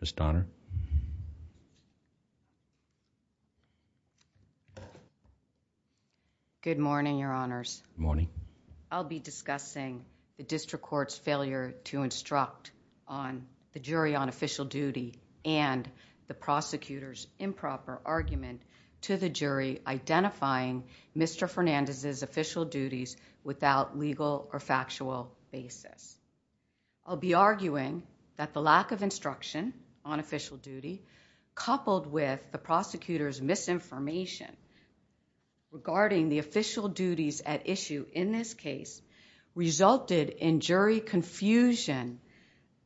Ms. Donner. Good morning, your honors. Good morning. I'll be discussing the district court's failure to instruct on the jury on official duty and the prosecutor's improper argument to the jury identifying Mr. Fernandez's official duties without legal or factual basis. I'll be arguing that the lack of instruction on official duty coupled with the prosecutor's misinformation regarding the official duties at issue in this case resulted in jury confusion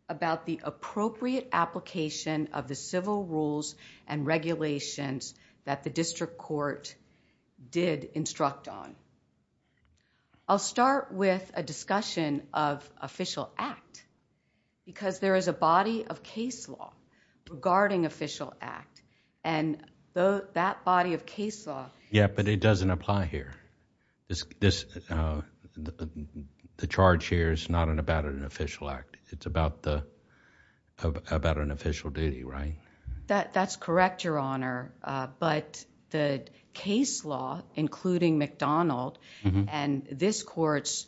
about the appropriate application of the civil rules and regulations that the district court did instruct on. I'll start with a discussion of official act because there is a body of case law regarding official act. That body of case law... Yeah, but it doesn't apply here. The charge here is not about an official act. It's about an official duty, right? That's correct, your honor, but the case law including McDonald and this court's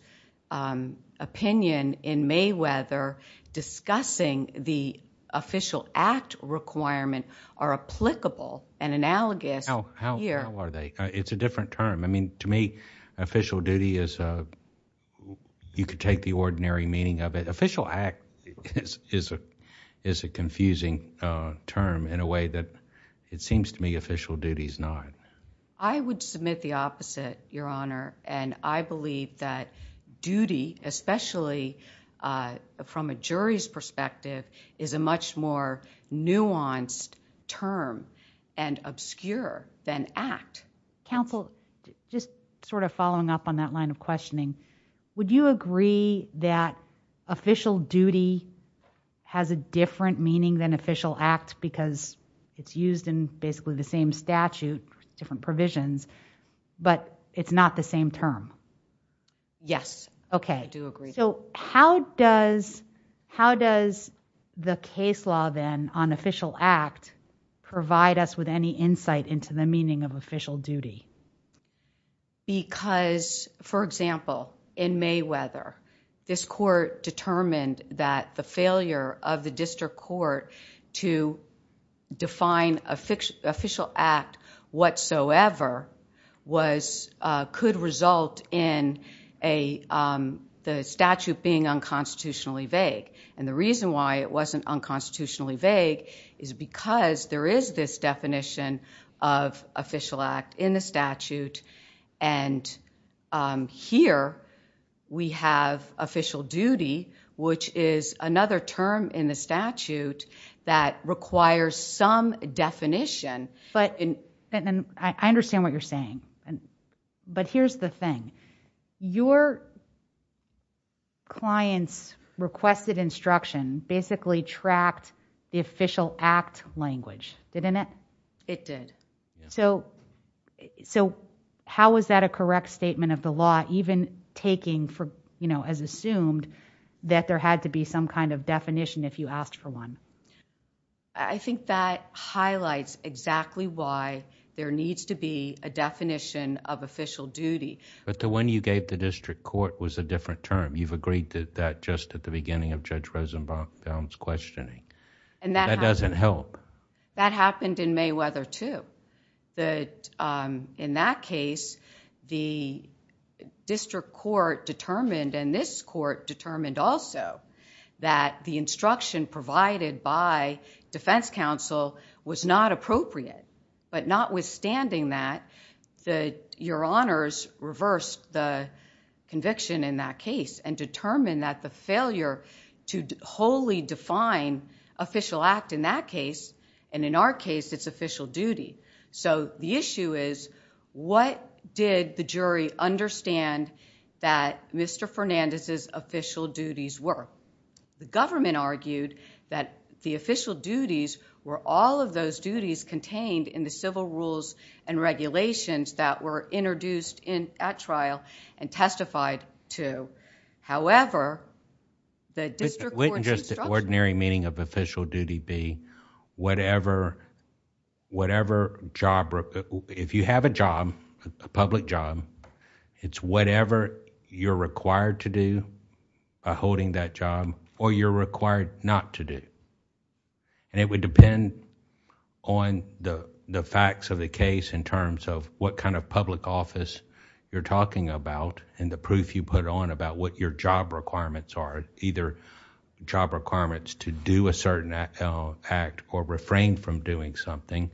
opinion in Mayweather discussing the official act requirement are applicable and analogous here. How are they? It's a different term. To me, official duty is... you could take the ordinary meaning of it. Official act is a confusing term in a way that it seems to me official duty is not. I would submit the opposite, your honor, and I believe that duty especially from a jury's perspective is a much more nuanced term and obscure than act. Counsel, just sort of following up on that line of questioning, would you agree that official duty has a different meaning than official act because it's used in basically the same statute, different provisions, but it's not the same term? Yes, I do agree. How does the case law then on official act provide us with any insight into the meaning of official duty? For example, in Mayweather, this court determined that the failure of the district court to define official act whatsoever could result in the statute being unconstitutionally vague. The reason why it wasn't unconstitutionally vague is because there is this definition of official act in the statute and here, we have official duty, which is another term in the statute that requires some definition. I understand what you're saying, but here's the thing, your client's requested instruction basically tracked the official act language, didn't it? It did. How is that a correct statement of the law, even taking as assumed that there had to be some kind of definition if you asked for one? I think that highlights exactly why there needs to be a definition of official duty. But the one you gave the district court was a different term. You've agreed to that just at the beginning of Judge Rosenbaum's questioning. That doesn't help. That happened in Mayweather too. In that case, the district court determined and this court determined also that the instruction provided by defense counsel was not appropriate, but notwithstanding that, your honors reversed the conviction in that case and determined that the failure to wholly define official act in that case, and in our case, it's official duty. The issue is what did the jury understand that Mr. Fernandez's official duties were? The government argued that the official duties were all of those duties contained in the civil rules and regulations that were introduced at trial and testified to. If you have a job, a public job, it's whatever you're required to do by holding that job or you're required not to do. It would depend on the facts of the case in terms of what kind of public office you're talking about and the proof you put on about what your job requirements are, either job or official act or refrain from doing something,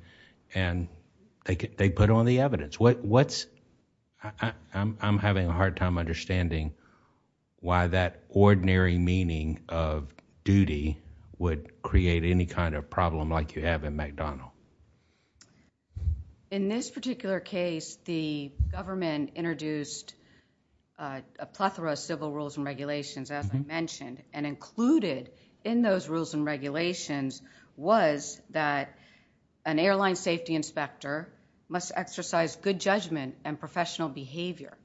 and they put on the evidence. I'm having a hard time understanding why that ordinary meaning of duty would create any kind of problem like you have in McDonnell. In this particular case, the government introduced a plethora of civil rules and regulations as I mentioned and included in those rules and regulations was that an airline safety inspector must exercise good judgment and professional behavior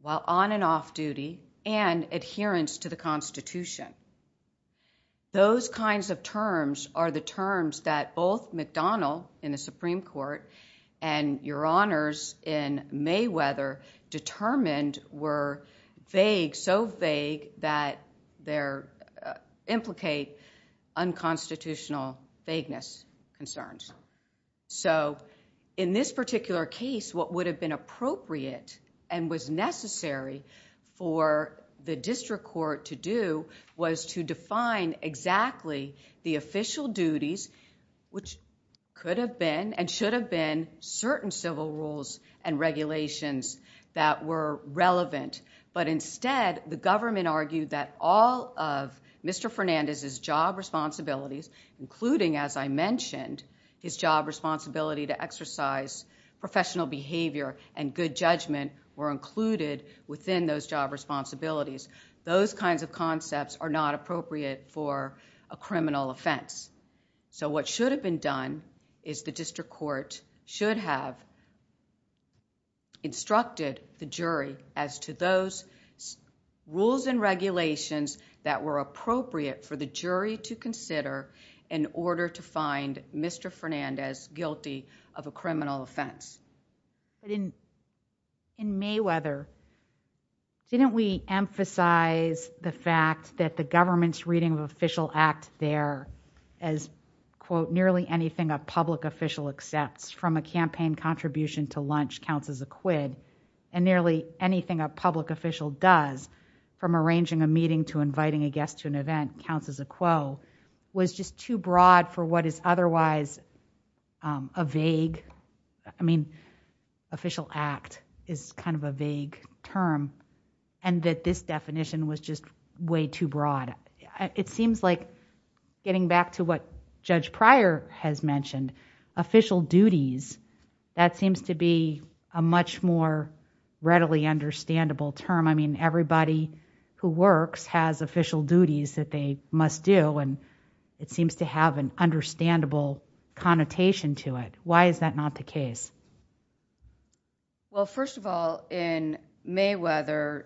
while on and off duty and adherence to the Constitution. Those kinds of terms are the terms that both McDonnell in the Supreme Court and your honors in Mayweather determined were vague, so vague that they implicate unconstitutional vagueness concerns. In this particular case, what would have been appropriate and was necessary for the district court to do was to define exactly the official duties which could have been and should have been certain civil rules and regulations that were relevant, but instead the government argued that all of Mr. Fernandez's job responsibilities including as I mentioned his job responsibility to exercise professional behavior and good judgment were included within those job responsibilities. Those kinds of concepts are not appropriate for a criminal offense. What should have been done is the district court should have instructed the jury as to those rules and regulations that were appropriate for the jury to consider in order to find Mr. Fernandez guilty of a criminal offense. In Mayweather, didn't we emphasize the fact that the government's reading of official act there as quote nearly anything a public official accepts from a campaign contribution to lunch counts as a quid and nearly anything a public official does from arranging a meeting to inviting a guest to an event counts as a quo was just too broad for what is otherwise a vague, I mean official act is kind of a vague term and that this definition was just way too broad. It seems like getting back to what Judge Pryor has mentioned, official duties that seems to be a much more readily understandable term. I mean everybody who works has official duties that they must do and it seems to have an connotation to it. Why is that not the case? Well, first of all, in Mayweather,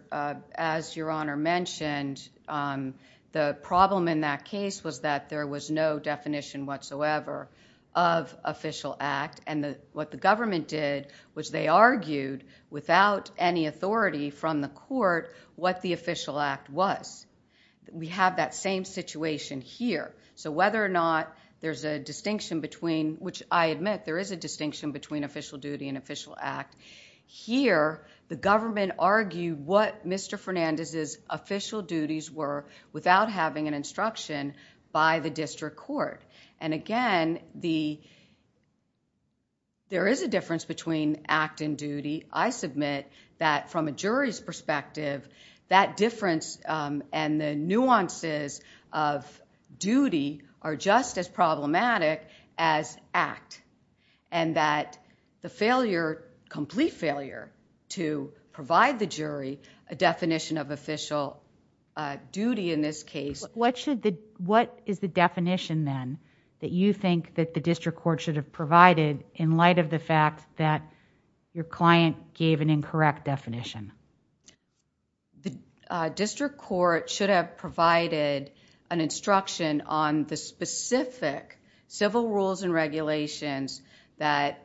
as Your Honor mentioned, the problem in that case was that there was no definition whatsoever of official act and what the government did was they argued without any authority from the court what the official act was. We have that same situation here, so whether or not there's a distinction between, which I admit there is a distinction between official duty and official act, here the government argued what Mr. Fernandez's official duties were without having an instruction by the district court and again, there is a difference between act and duty. I submit that from a jury's perspective, that difference and the nuances of duty are just as problematic as act and that the failure, complete failure to provide the jury a definition of official duty in this case... What is the definition then that you think that the district court should have provided in light of the fact that your client gave an incorrect definition? The district court should have provided an instruction on the specific civil rules and regulations that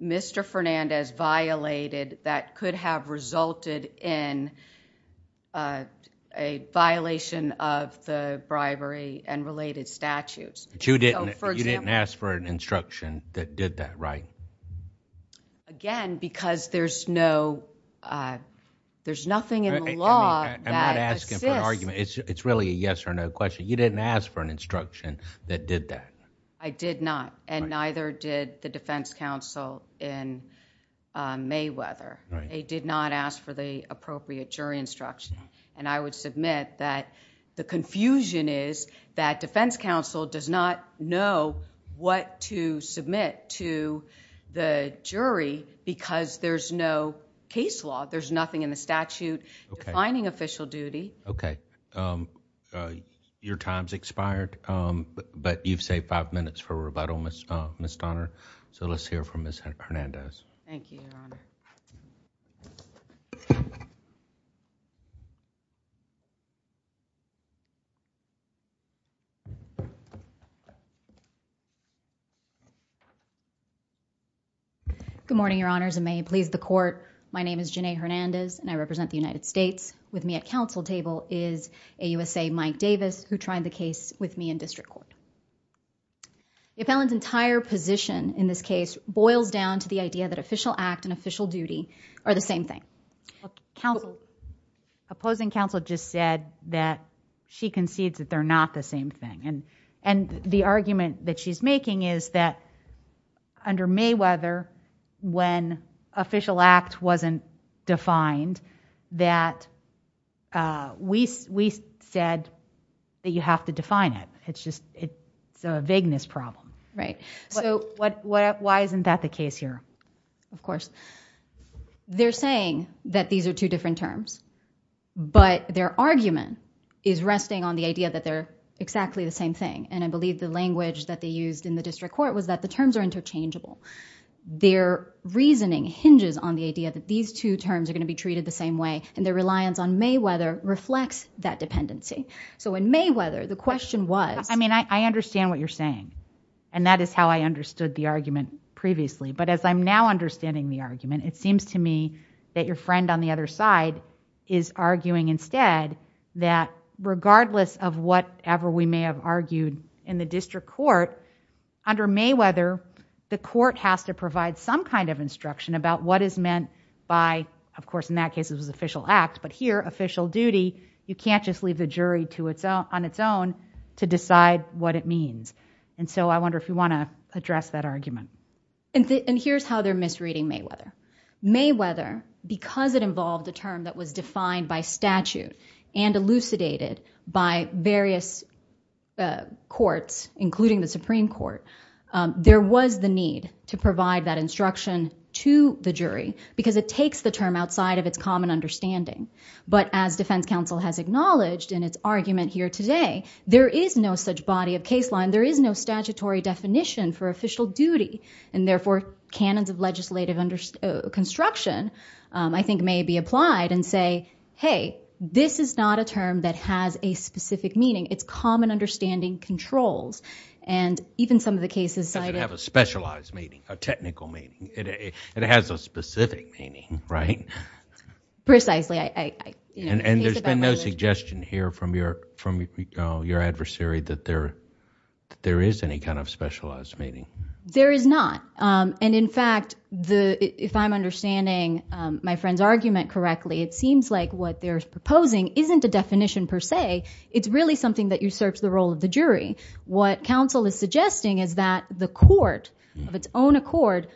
Mr. Fernandez violated that could have resulted in a violation of the bribery and related statutes. You didn't ask for an instruction that did that, right? Again, because there's no... there's nothing in the law that assists... I'm not asking for an argument. It's really a yes or no question. You didn't ask for an instruction that did that. I did not and neither did the defense counsel in Mayweather. They did not ask for the appropriate jury instruction and I would submit that the confusion is that defense counsel does not know what to submit to the jury because there's no case law. There's nothing in the statute defining official duty. Okay. Your time's expired, but you've saved five minutes for rebuttal, Ms. Donner, so let's Thank you, Your Honor. Good morning, Your Honors, and may it please the court. My name is Janae Hernandez and I represent the United States. With me at counsel table is AUSA Mike Davis who tried the case with me in district court. The appellant's entire position in this case boils down to the idea that official act and official duty are the same thing. Opposing counsel just said that she concedes that they're not the same thing and the argument that she's making is that under Mayweather when official act wasn't defined that we said that you have to define it. It's a vagueness problem. Why isn't that the case here? Of course, they're saying that these are two different terms, but their argument is resting on the idea that they're exactly the same thing and I believe the language that they used in the district court was that the terms are interchangeable. Their reasoning hinges on the idea that these two terms are going to be treated the same way and their reliance on Mayweather reflects that dependency. In Mayweather, the question was- I mean, I understand what you're saying and that is how I understood the argument previously, but as I'm now understanding the argument, it seems to me that your friend on the other side is arguing instead that regardless of whatever we may have argued in the district court, under Mayweather, the court has to provide some kind of instruction about what is meant by, of course, in that case it was official act, but here official duty you can't just leave the jury on its own to decide what it means and so I wonder if you want to address that argument. And here's how they're misreading Mayweather. Mayweather, because it involved a term that was defined by statute and elucidated by various courts, including the Supreme Court, there was the need to provide that instruction to the jury because it takes the term outside of its common understanding, but as defense counsel has acknowledged in its argument here today, there is no such body of case law and there is no statutory definition for official duty and therefore canons of legislative construction I think may be applied and say, hey, this is not a term that has a specific meaning. It's common understanding controls and even some of the cases- It doesn't have a specialized meaning, a technical meaning. It has a specific meaning, right? Precisely. And there's been no suggestion here from your adversary that there is any kind of specialized meaning. There is not and in fact, if I'm understanding my friend's argument correctly, it seems like what they're proposing isn't a definition per se. It's really something that usurps the role of the jury. What counsel is suggesting is that the court of its own accord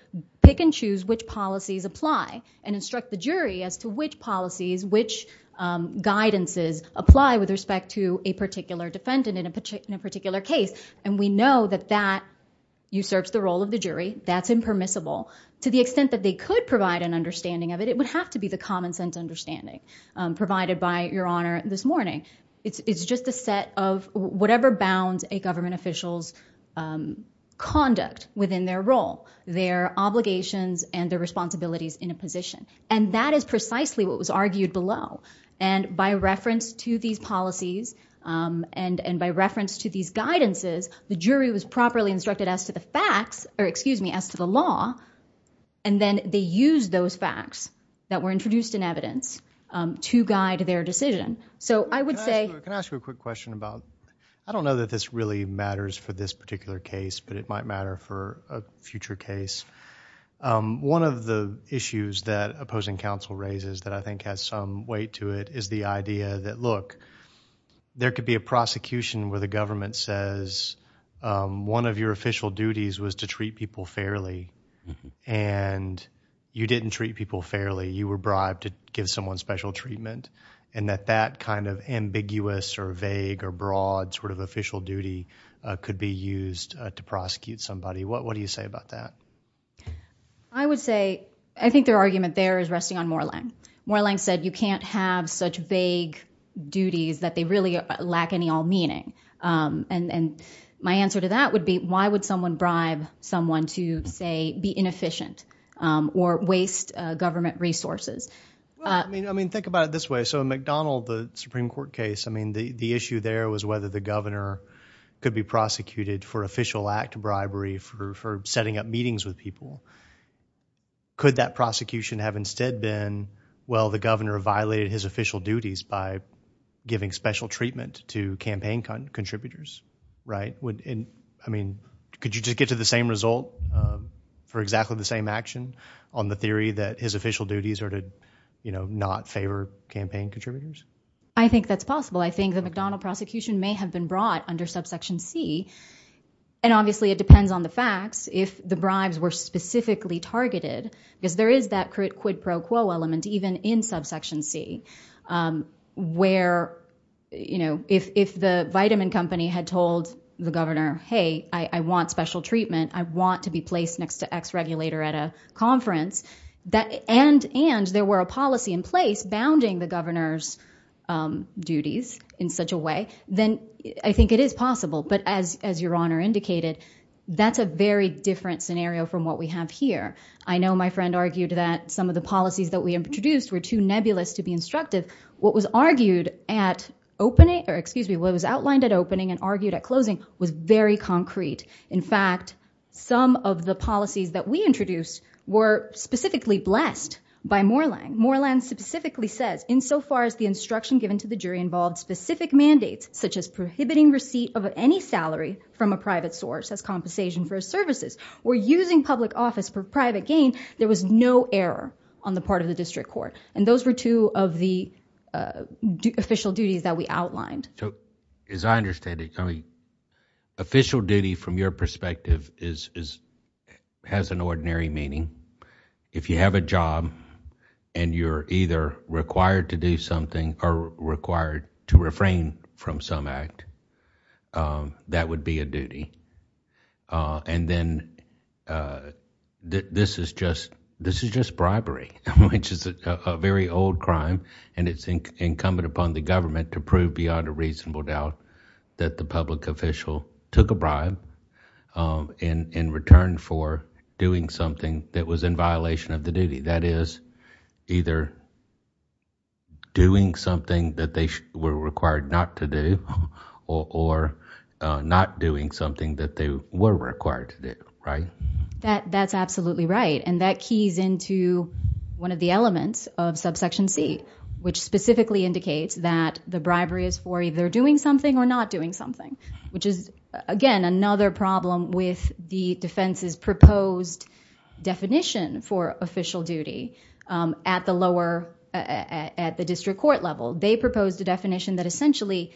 pick and choose which policies apply and instruct the jury as to which policies, which guidances apply with respect to a particular defendant in a particular case and we know that that usurps the role of the jury. That's impermissible. To the extent that they could provide an understanding of it, it would have to be the common sense understanding provided by your honor this morning. It's just a set of whatever bounds a government official's conduct within their role, their responsibilities in a position and that is precisely what was argued below and by reference to these policies and by reference to these guidances, the jury was properly instructed as to the facts or excuse me, as to the law and then they used those facts that were introduced in evidence to guide their decision. So I would say- Can I ask you a quick question about, I don't know that this really matters for this particular case but it might matter for a future case. One of the issues that opposing counsel raises that I think has some weight to it is the idea that look, there could be a prosecution where the government says one of your official duties was to treat people fairly and you didn't treat people fairly. You were bribed to give someone special treatment and that that kind of ambiguous or vague or broad sort of official duty could be used to prosecute somebody. What do you say about that? I would say, I think their argument there is resting on Moorlang. Moorlang said you can't have such vague duties that they really lack any all meaning and my answer to that would be why would someone bribe someone to say be inefficient or waste government resources? Think about it this way. So in McDonnell, the Supreme Court case, the issue there was whether the governor could be prosecuted for official act bribery for setting up meetings with people. Could that prosecution have instead been, well the governor violated his official duties by giving special treatment to campaign contributors, right? Could you just get to the same result for exactly the same action on the theory that his official duties are to not favor campaign contributors? I think that's possible. I think the McDonnell prosecution may have been brought under subsection C and obviously it depends on the facts. If the bribes were specifically targeted, because there is that quid pro quo element even in subsection C where if the vitamin company had told the governor, hey, I want special treatment. I want to be placed next to X regulator at a conference and there were a policy in place bounding the governor's duties in such a way, then I think it is possible. But as your honor indicated, that's a very different scenario from what we have here. I know my friend argued that some of the policies that we introduced were too nebulous to be instructive. What was argued at opening or excuse me, what was outlined at opening and argued at closing was very concrete. In fact, some of the policies that we introduced were specifically blessed by Moreland. Moreland specifically says in so far as the instruction given to the jury involved specific mandates such as prohibiting receipt of any salary from a private source as compensation for services or using public office for private gain. There was no error on the part of the district court and those were two of the official duties that we outlined. So as I understand it, official duty from your perspective has an ordinary meaning. If you have a job and you're either required to do something or required to refrain from some act, that would be a duty. And then this is just bribery, which is a very old crime and it's incumbent upon the government to prove beyond a reasonable doubt that the public official took a bribe in return for doing something that was in violation of the duty. That is either doing something that they were required not to do or not doing something that they were required to do, right? That's absolutely right and that keys into one of the elements of subsection C, which specifically indicates that the bribery is for either doing something or not doing something, which is, again, another problem with the defense's proposed definition for official duty at the lower, at the district court level. They proposed a definition that essentially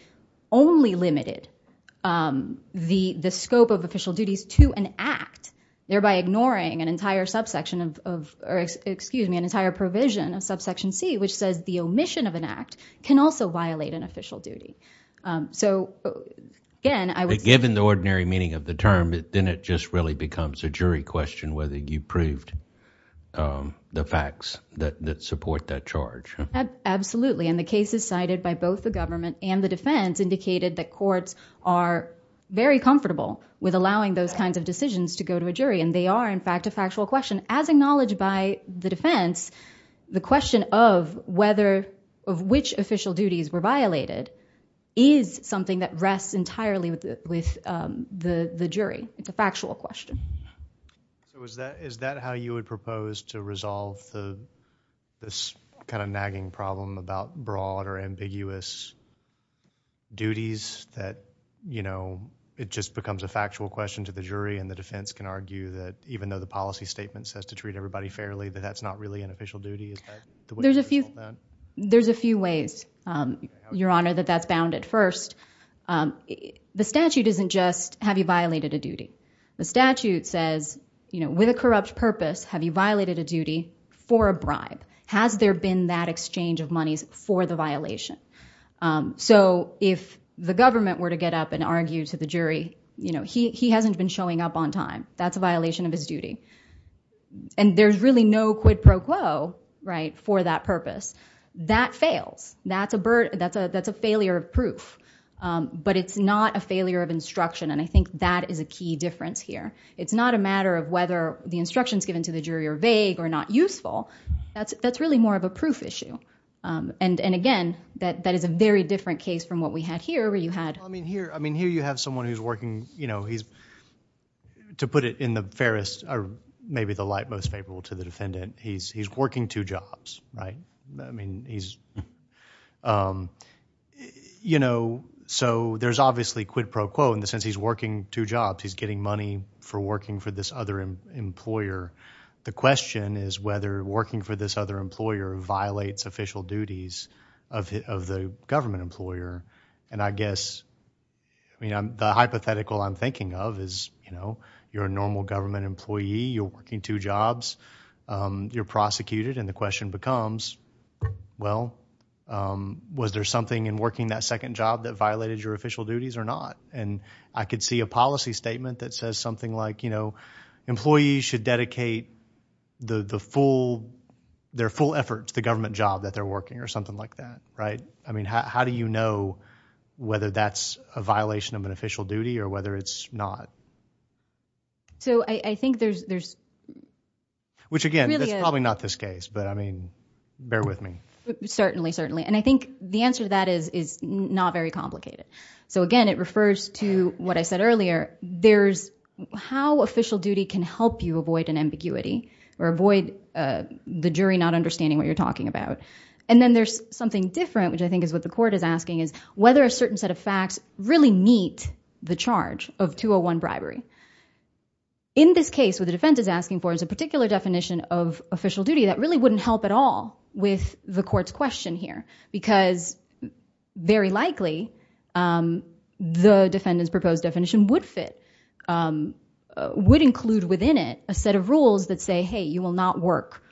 only limited the scope of official duties to an act, thereby ignoring an entire subsection of, excuse me, an entire provision of subsection C, which says the omission of an act can also violate an official duty. So, again, I would say- But given the ordinary meaning of the term, then it just really becomes a jury question whether you proved the facts that support that charge, huh? Absolutely, and the cases cited by both the government and the defense indicated that courts are very comfortable with allowing those kinds of decisions to go to a jury and they are, in fact, a factual question. As acknowledged by the defense, the question of whether, of which official duties were violated is something that rests entirely with the jury. It's a factual question. Is that how you would propose to resolve the, this kind of nagging problem about broad or ambiguous duties that, you know, it just becomes a factual question to the jury and the defense can argue that even though the policy statement says to treat everybody fairly, that that's not really an official duty? There's a few ways, Your Honor, that that's bounded. First, the statute isn't just, have you violated a duty? The statute says, you know, with a corrupt purpose, have you violated a duty for a bribe? Has there been that exchange of monies for the violation? So if the government were to get up and argue to the jury, you know, he hasn't been showing up on time. That's a violation of his duty. And there's really no quid pro quo, right, for that purpose. That fails. That's a failure of proof. But it's not a failure of instruction, and I think that is a key difference here. It's not a matter of whether the instructions given to the jury are vague or not useful. That's really more of a proof issue. And again, that is a very different case from what we had here, where you had- Well, I mean, here you have someone who's working, you know, he's, to put it in the fairest, or maybe the light most favorable to the defendant, he's working two jobs, right? I mean, he's, you know, so there's obviously quid pro quo in the sense he's working two jobs. He's getting money for working for this other employer. The question is whether working for this other employer violates official duties of the government employer. And I guess, I mean, the hypothetical I'm thinking of is, you know, you're a normal government employee, you're working two jobs, you're prosecuted, and the question becomes, well, was there something in working that second job that violated your official duties or not? And I could see a policy statement that says something like, you know, employees should dedicate their full effort to the government job that they're working, or something like that, right? I mean, how do you know whether that's a violation of an official duty or whether it's not? So I think there's, there's, which again, that's probably not this case, but I mean, bear with me. Certainly, certainly. And I think the answer to that is, is not very complicated. So again, it refers to what I said earlier, there's how official duty can help you avoid an ambiguity or avoid the jury not understanding what you're talking about. And then there's something different, which I think is what the court is asking is whether a certain set of facts really meet the charge of 201 bribery. In this case, what the defense is asking for is a particular definition of official duty that really wouldn't help at all with the court's question here, because very likely, the defendant's proposed definition would fit, would include within it a set of rules that say, hey, you will not work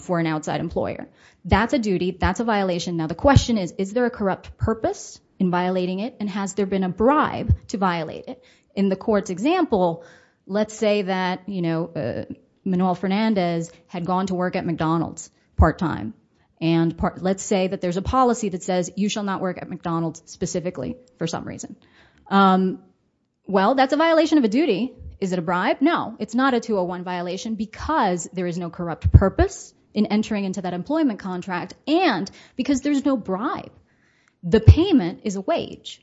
for an outside employer. That's a duty. That's a violation. Now the question is, is there a corrupt purpose in violating it? And has there been a bribe to violate it? In the court's example, let's say that, you know, Manuel Fernandez had gone to work at McDonald's part time. And let's say that there's a policy that says you shall not work at McDonald's specifically for some reason. Well, that's a violation of a duty. Is it a bribe? No, it's not a 201 violation because there is no corrupt purpose in entering into that employment contract, and because there's no bribe. The payment is a wage.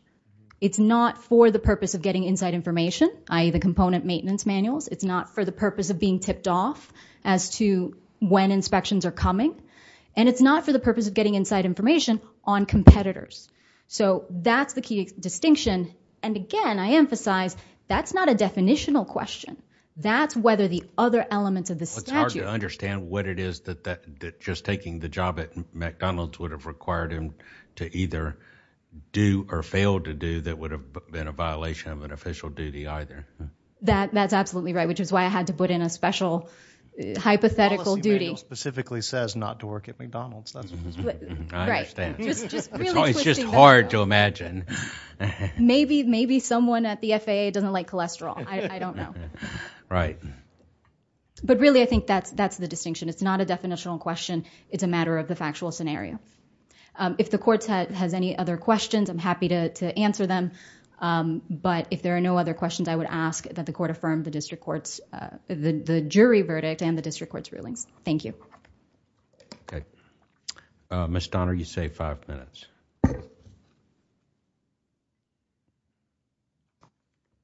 It's not for the purpose of getting inside information, i.e. the component maintenance manuals. It's not for the purpose of being tipped off as to when inspections are coming. And it's not for the purpose of getting inside information on competitors. So that's the key distinction. And again, I emphasize, that's not a definitional question. That's whether the other elements of the statute... the job at McDonald's would have required him to either do or fail to do that would have been a violation of an official duty either. That's absolutely right, which is why I had to put in a special hypothetical duty. The policy manual specifically says not to work at McDonald's. That's what it says. I understand. Right. Just really twisting that. It's just hard to imagine. Maybe, maybe someone at the FAA doesn't like cholesterol. I don't know. Right. But really, I think that's the distinction. It's not a definitional question. It's a matter of the factual scenario. If the court has any other questions, I'm happy to answer them. But if there are no other questions, I would ask that the court affirm the district court's... the jury verdict and the district court's rulings. Thank you. Okay. Ms. Donner, you save five minutes.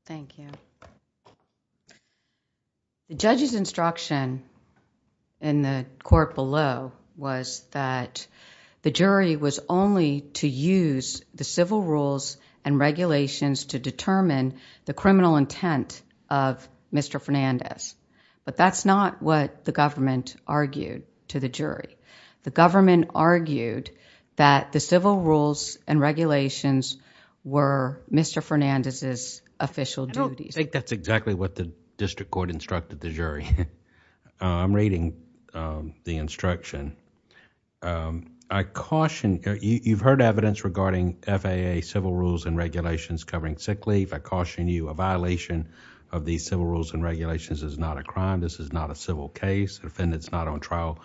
Thank you. The judge's instruction in the court below was that the jury was only to use the civil rules and regulations to determine the criminal intent of Mr. Fernandez. But that's not what the government argued to the jury. The government argued that the civil rules and regulations were Mr. Fernandez's official duties. I don't think that's exactly what the district court instructed the jury. I'm reading the instruction. I caution, you've heard evidence regarding FAA civil rules and regulations covering sick leave. I caution you, a violation of these civil rules and regulations is not a crime. This is not a civil case. The defendant's not on trial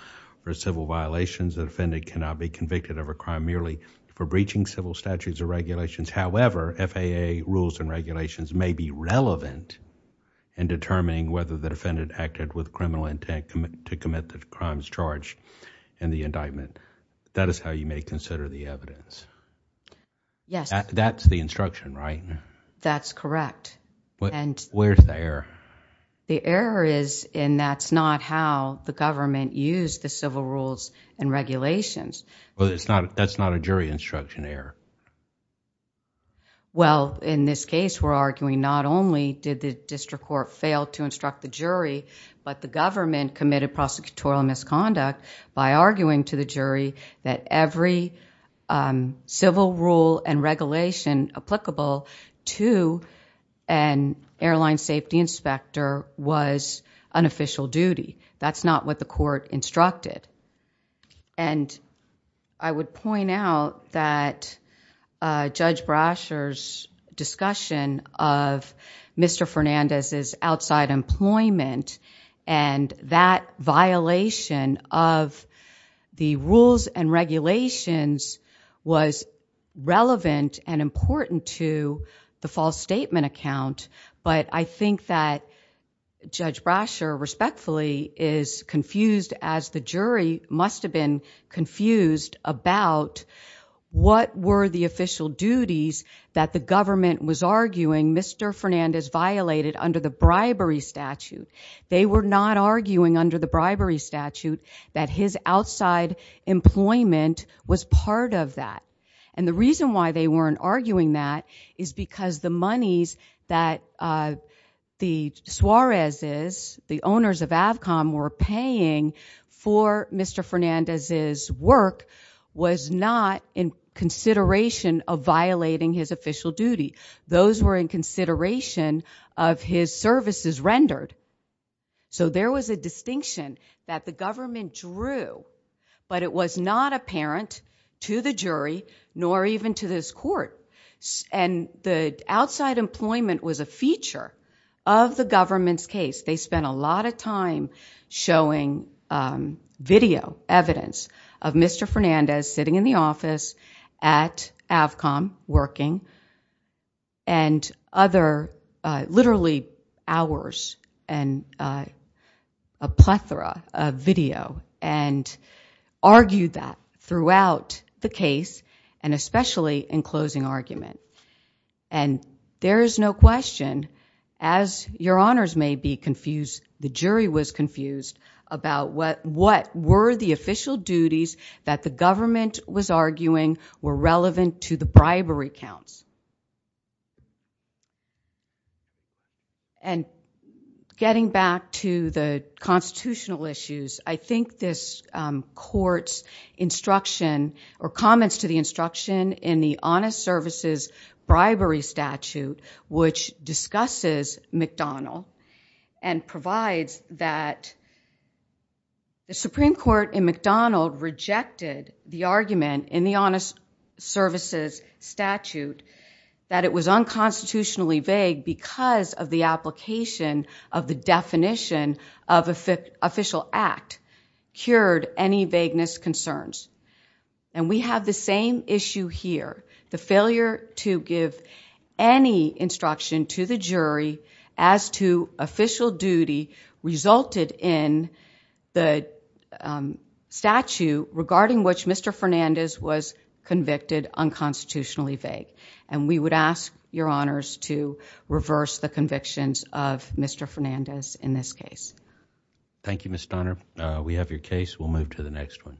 for civil violations. The defendant cannot be convicted of a crime merely for breaching civil statutes or regulations. However, FAA rules and regulations may be relevant in determining whether the defendant acted with criminal intent to commit the crimes charged in the indictment. That is how you may consider the evidence. That's the instruction, right? That's correct. Where's the error? The error is in that's not how the government used the civil rules and regulations. That's not a jury instruction error. In this case, we're arguing not only did the district court fail to instruct the jury, but the government committed prosecutorial misconduct by arguing to the jury that every civil rule and regulation applicable to an airline safety inspector was an official duty. That's not what the court instructed. I would point out that Judge Brasher's discussion of Mr. Fernandez's outside employment and that violation of the rules and regulations was relevant and important to the false statement account, but I think that Judge Brasher, respectfully, is confused as the jury must have been confused about what were the official duties that the government was arguing Mr. Fernandez violated under the bribery statute. They were not arguing under the bribery statute that his outside employment was part of that. The reason why they weren't arguing that is because the monies that the Suarez's, the owners of Avcom were paying for Mr. Fernandez's work was not in consideration of violating his official duty. Those were in consideration of his services rendered. So there was a distinction that the government drew, but it was not apparent to the jury nor even to this court and the outside employment was a feature of the government's case. They spent a lot of time showing video evidence of Mr. Fernandez sitting in the office at the time and a plethora of video and argued that throughout the case and especially in closing argument. There is no question, as your honors may be confused, the jury was confused about what were the official duties that the government was arguing were relevant to the bribery counts. And getting back to the constitutional issues, I think this court's instruction or comments to the instruction in the honest services bribery statute, which discusses McDonald and provides that the Supreme Court in McDonald rejected the argument in the honest services statute that it was unconstitutionally vague because of the application of the definition of official act cured any vagueness concerns. And we have the same issue here. The failure to give any instruction to the jury as to official duty resulted in the statute regarding which Mr. Fernandez was convicted unconstitutionally vague. And we would ask your honors to reverse the convictions of Mr. Fernandez in this case. Thank you, Ms. Donner. We have your case. We'll move to the next one.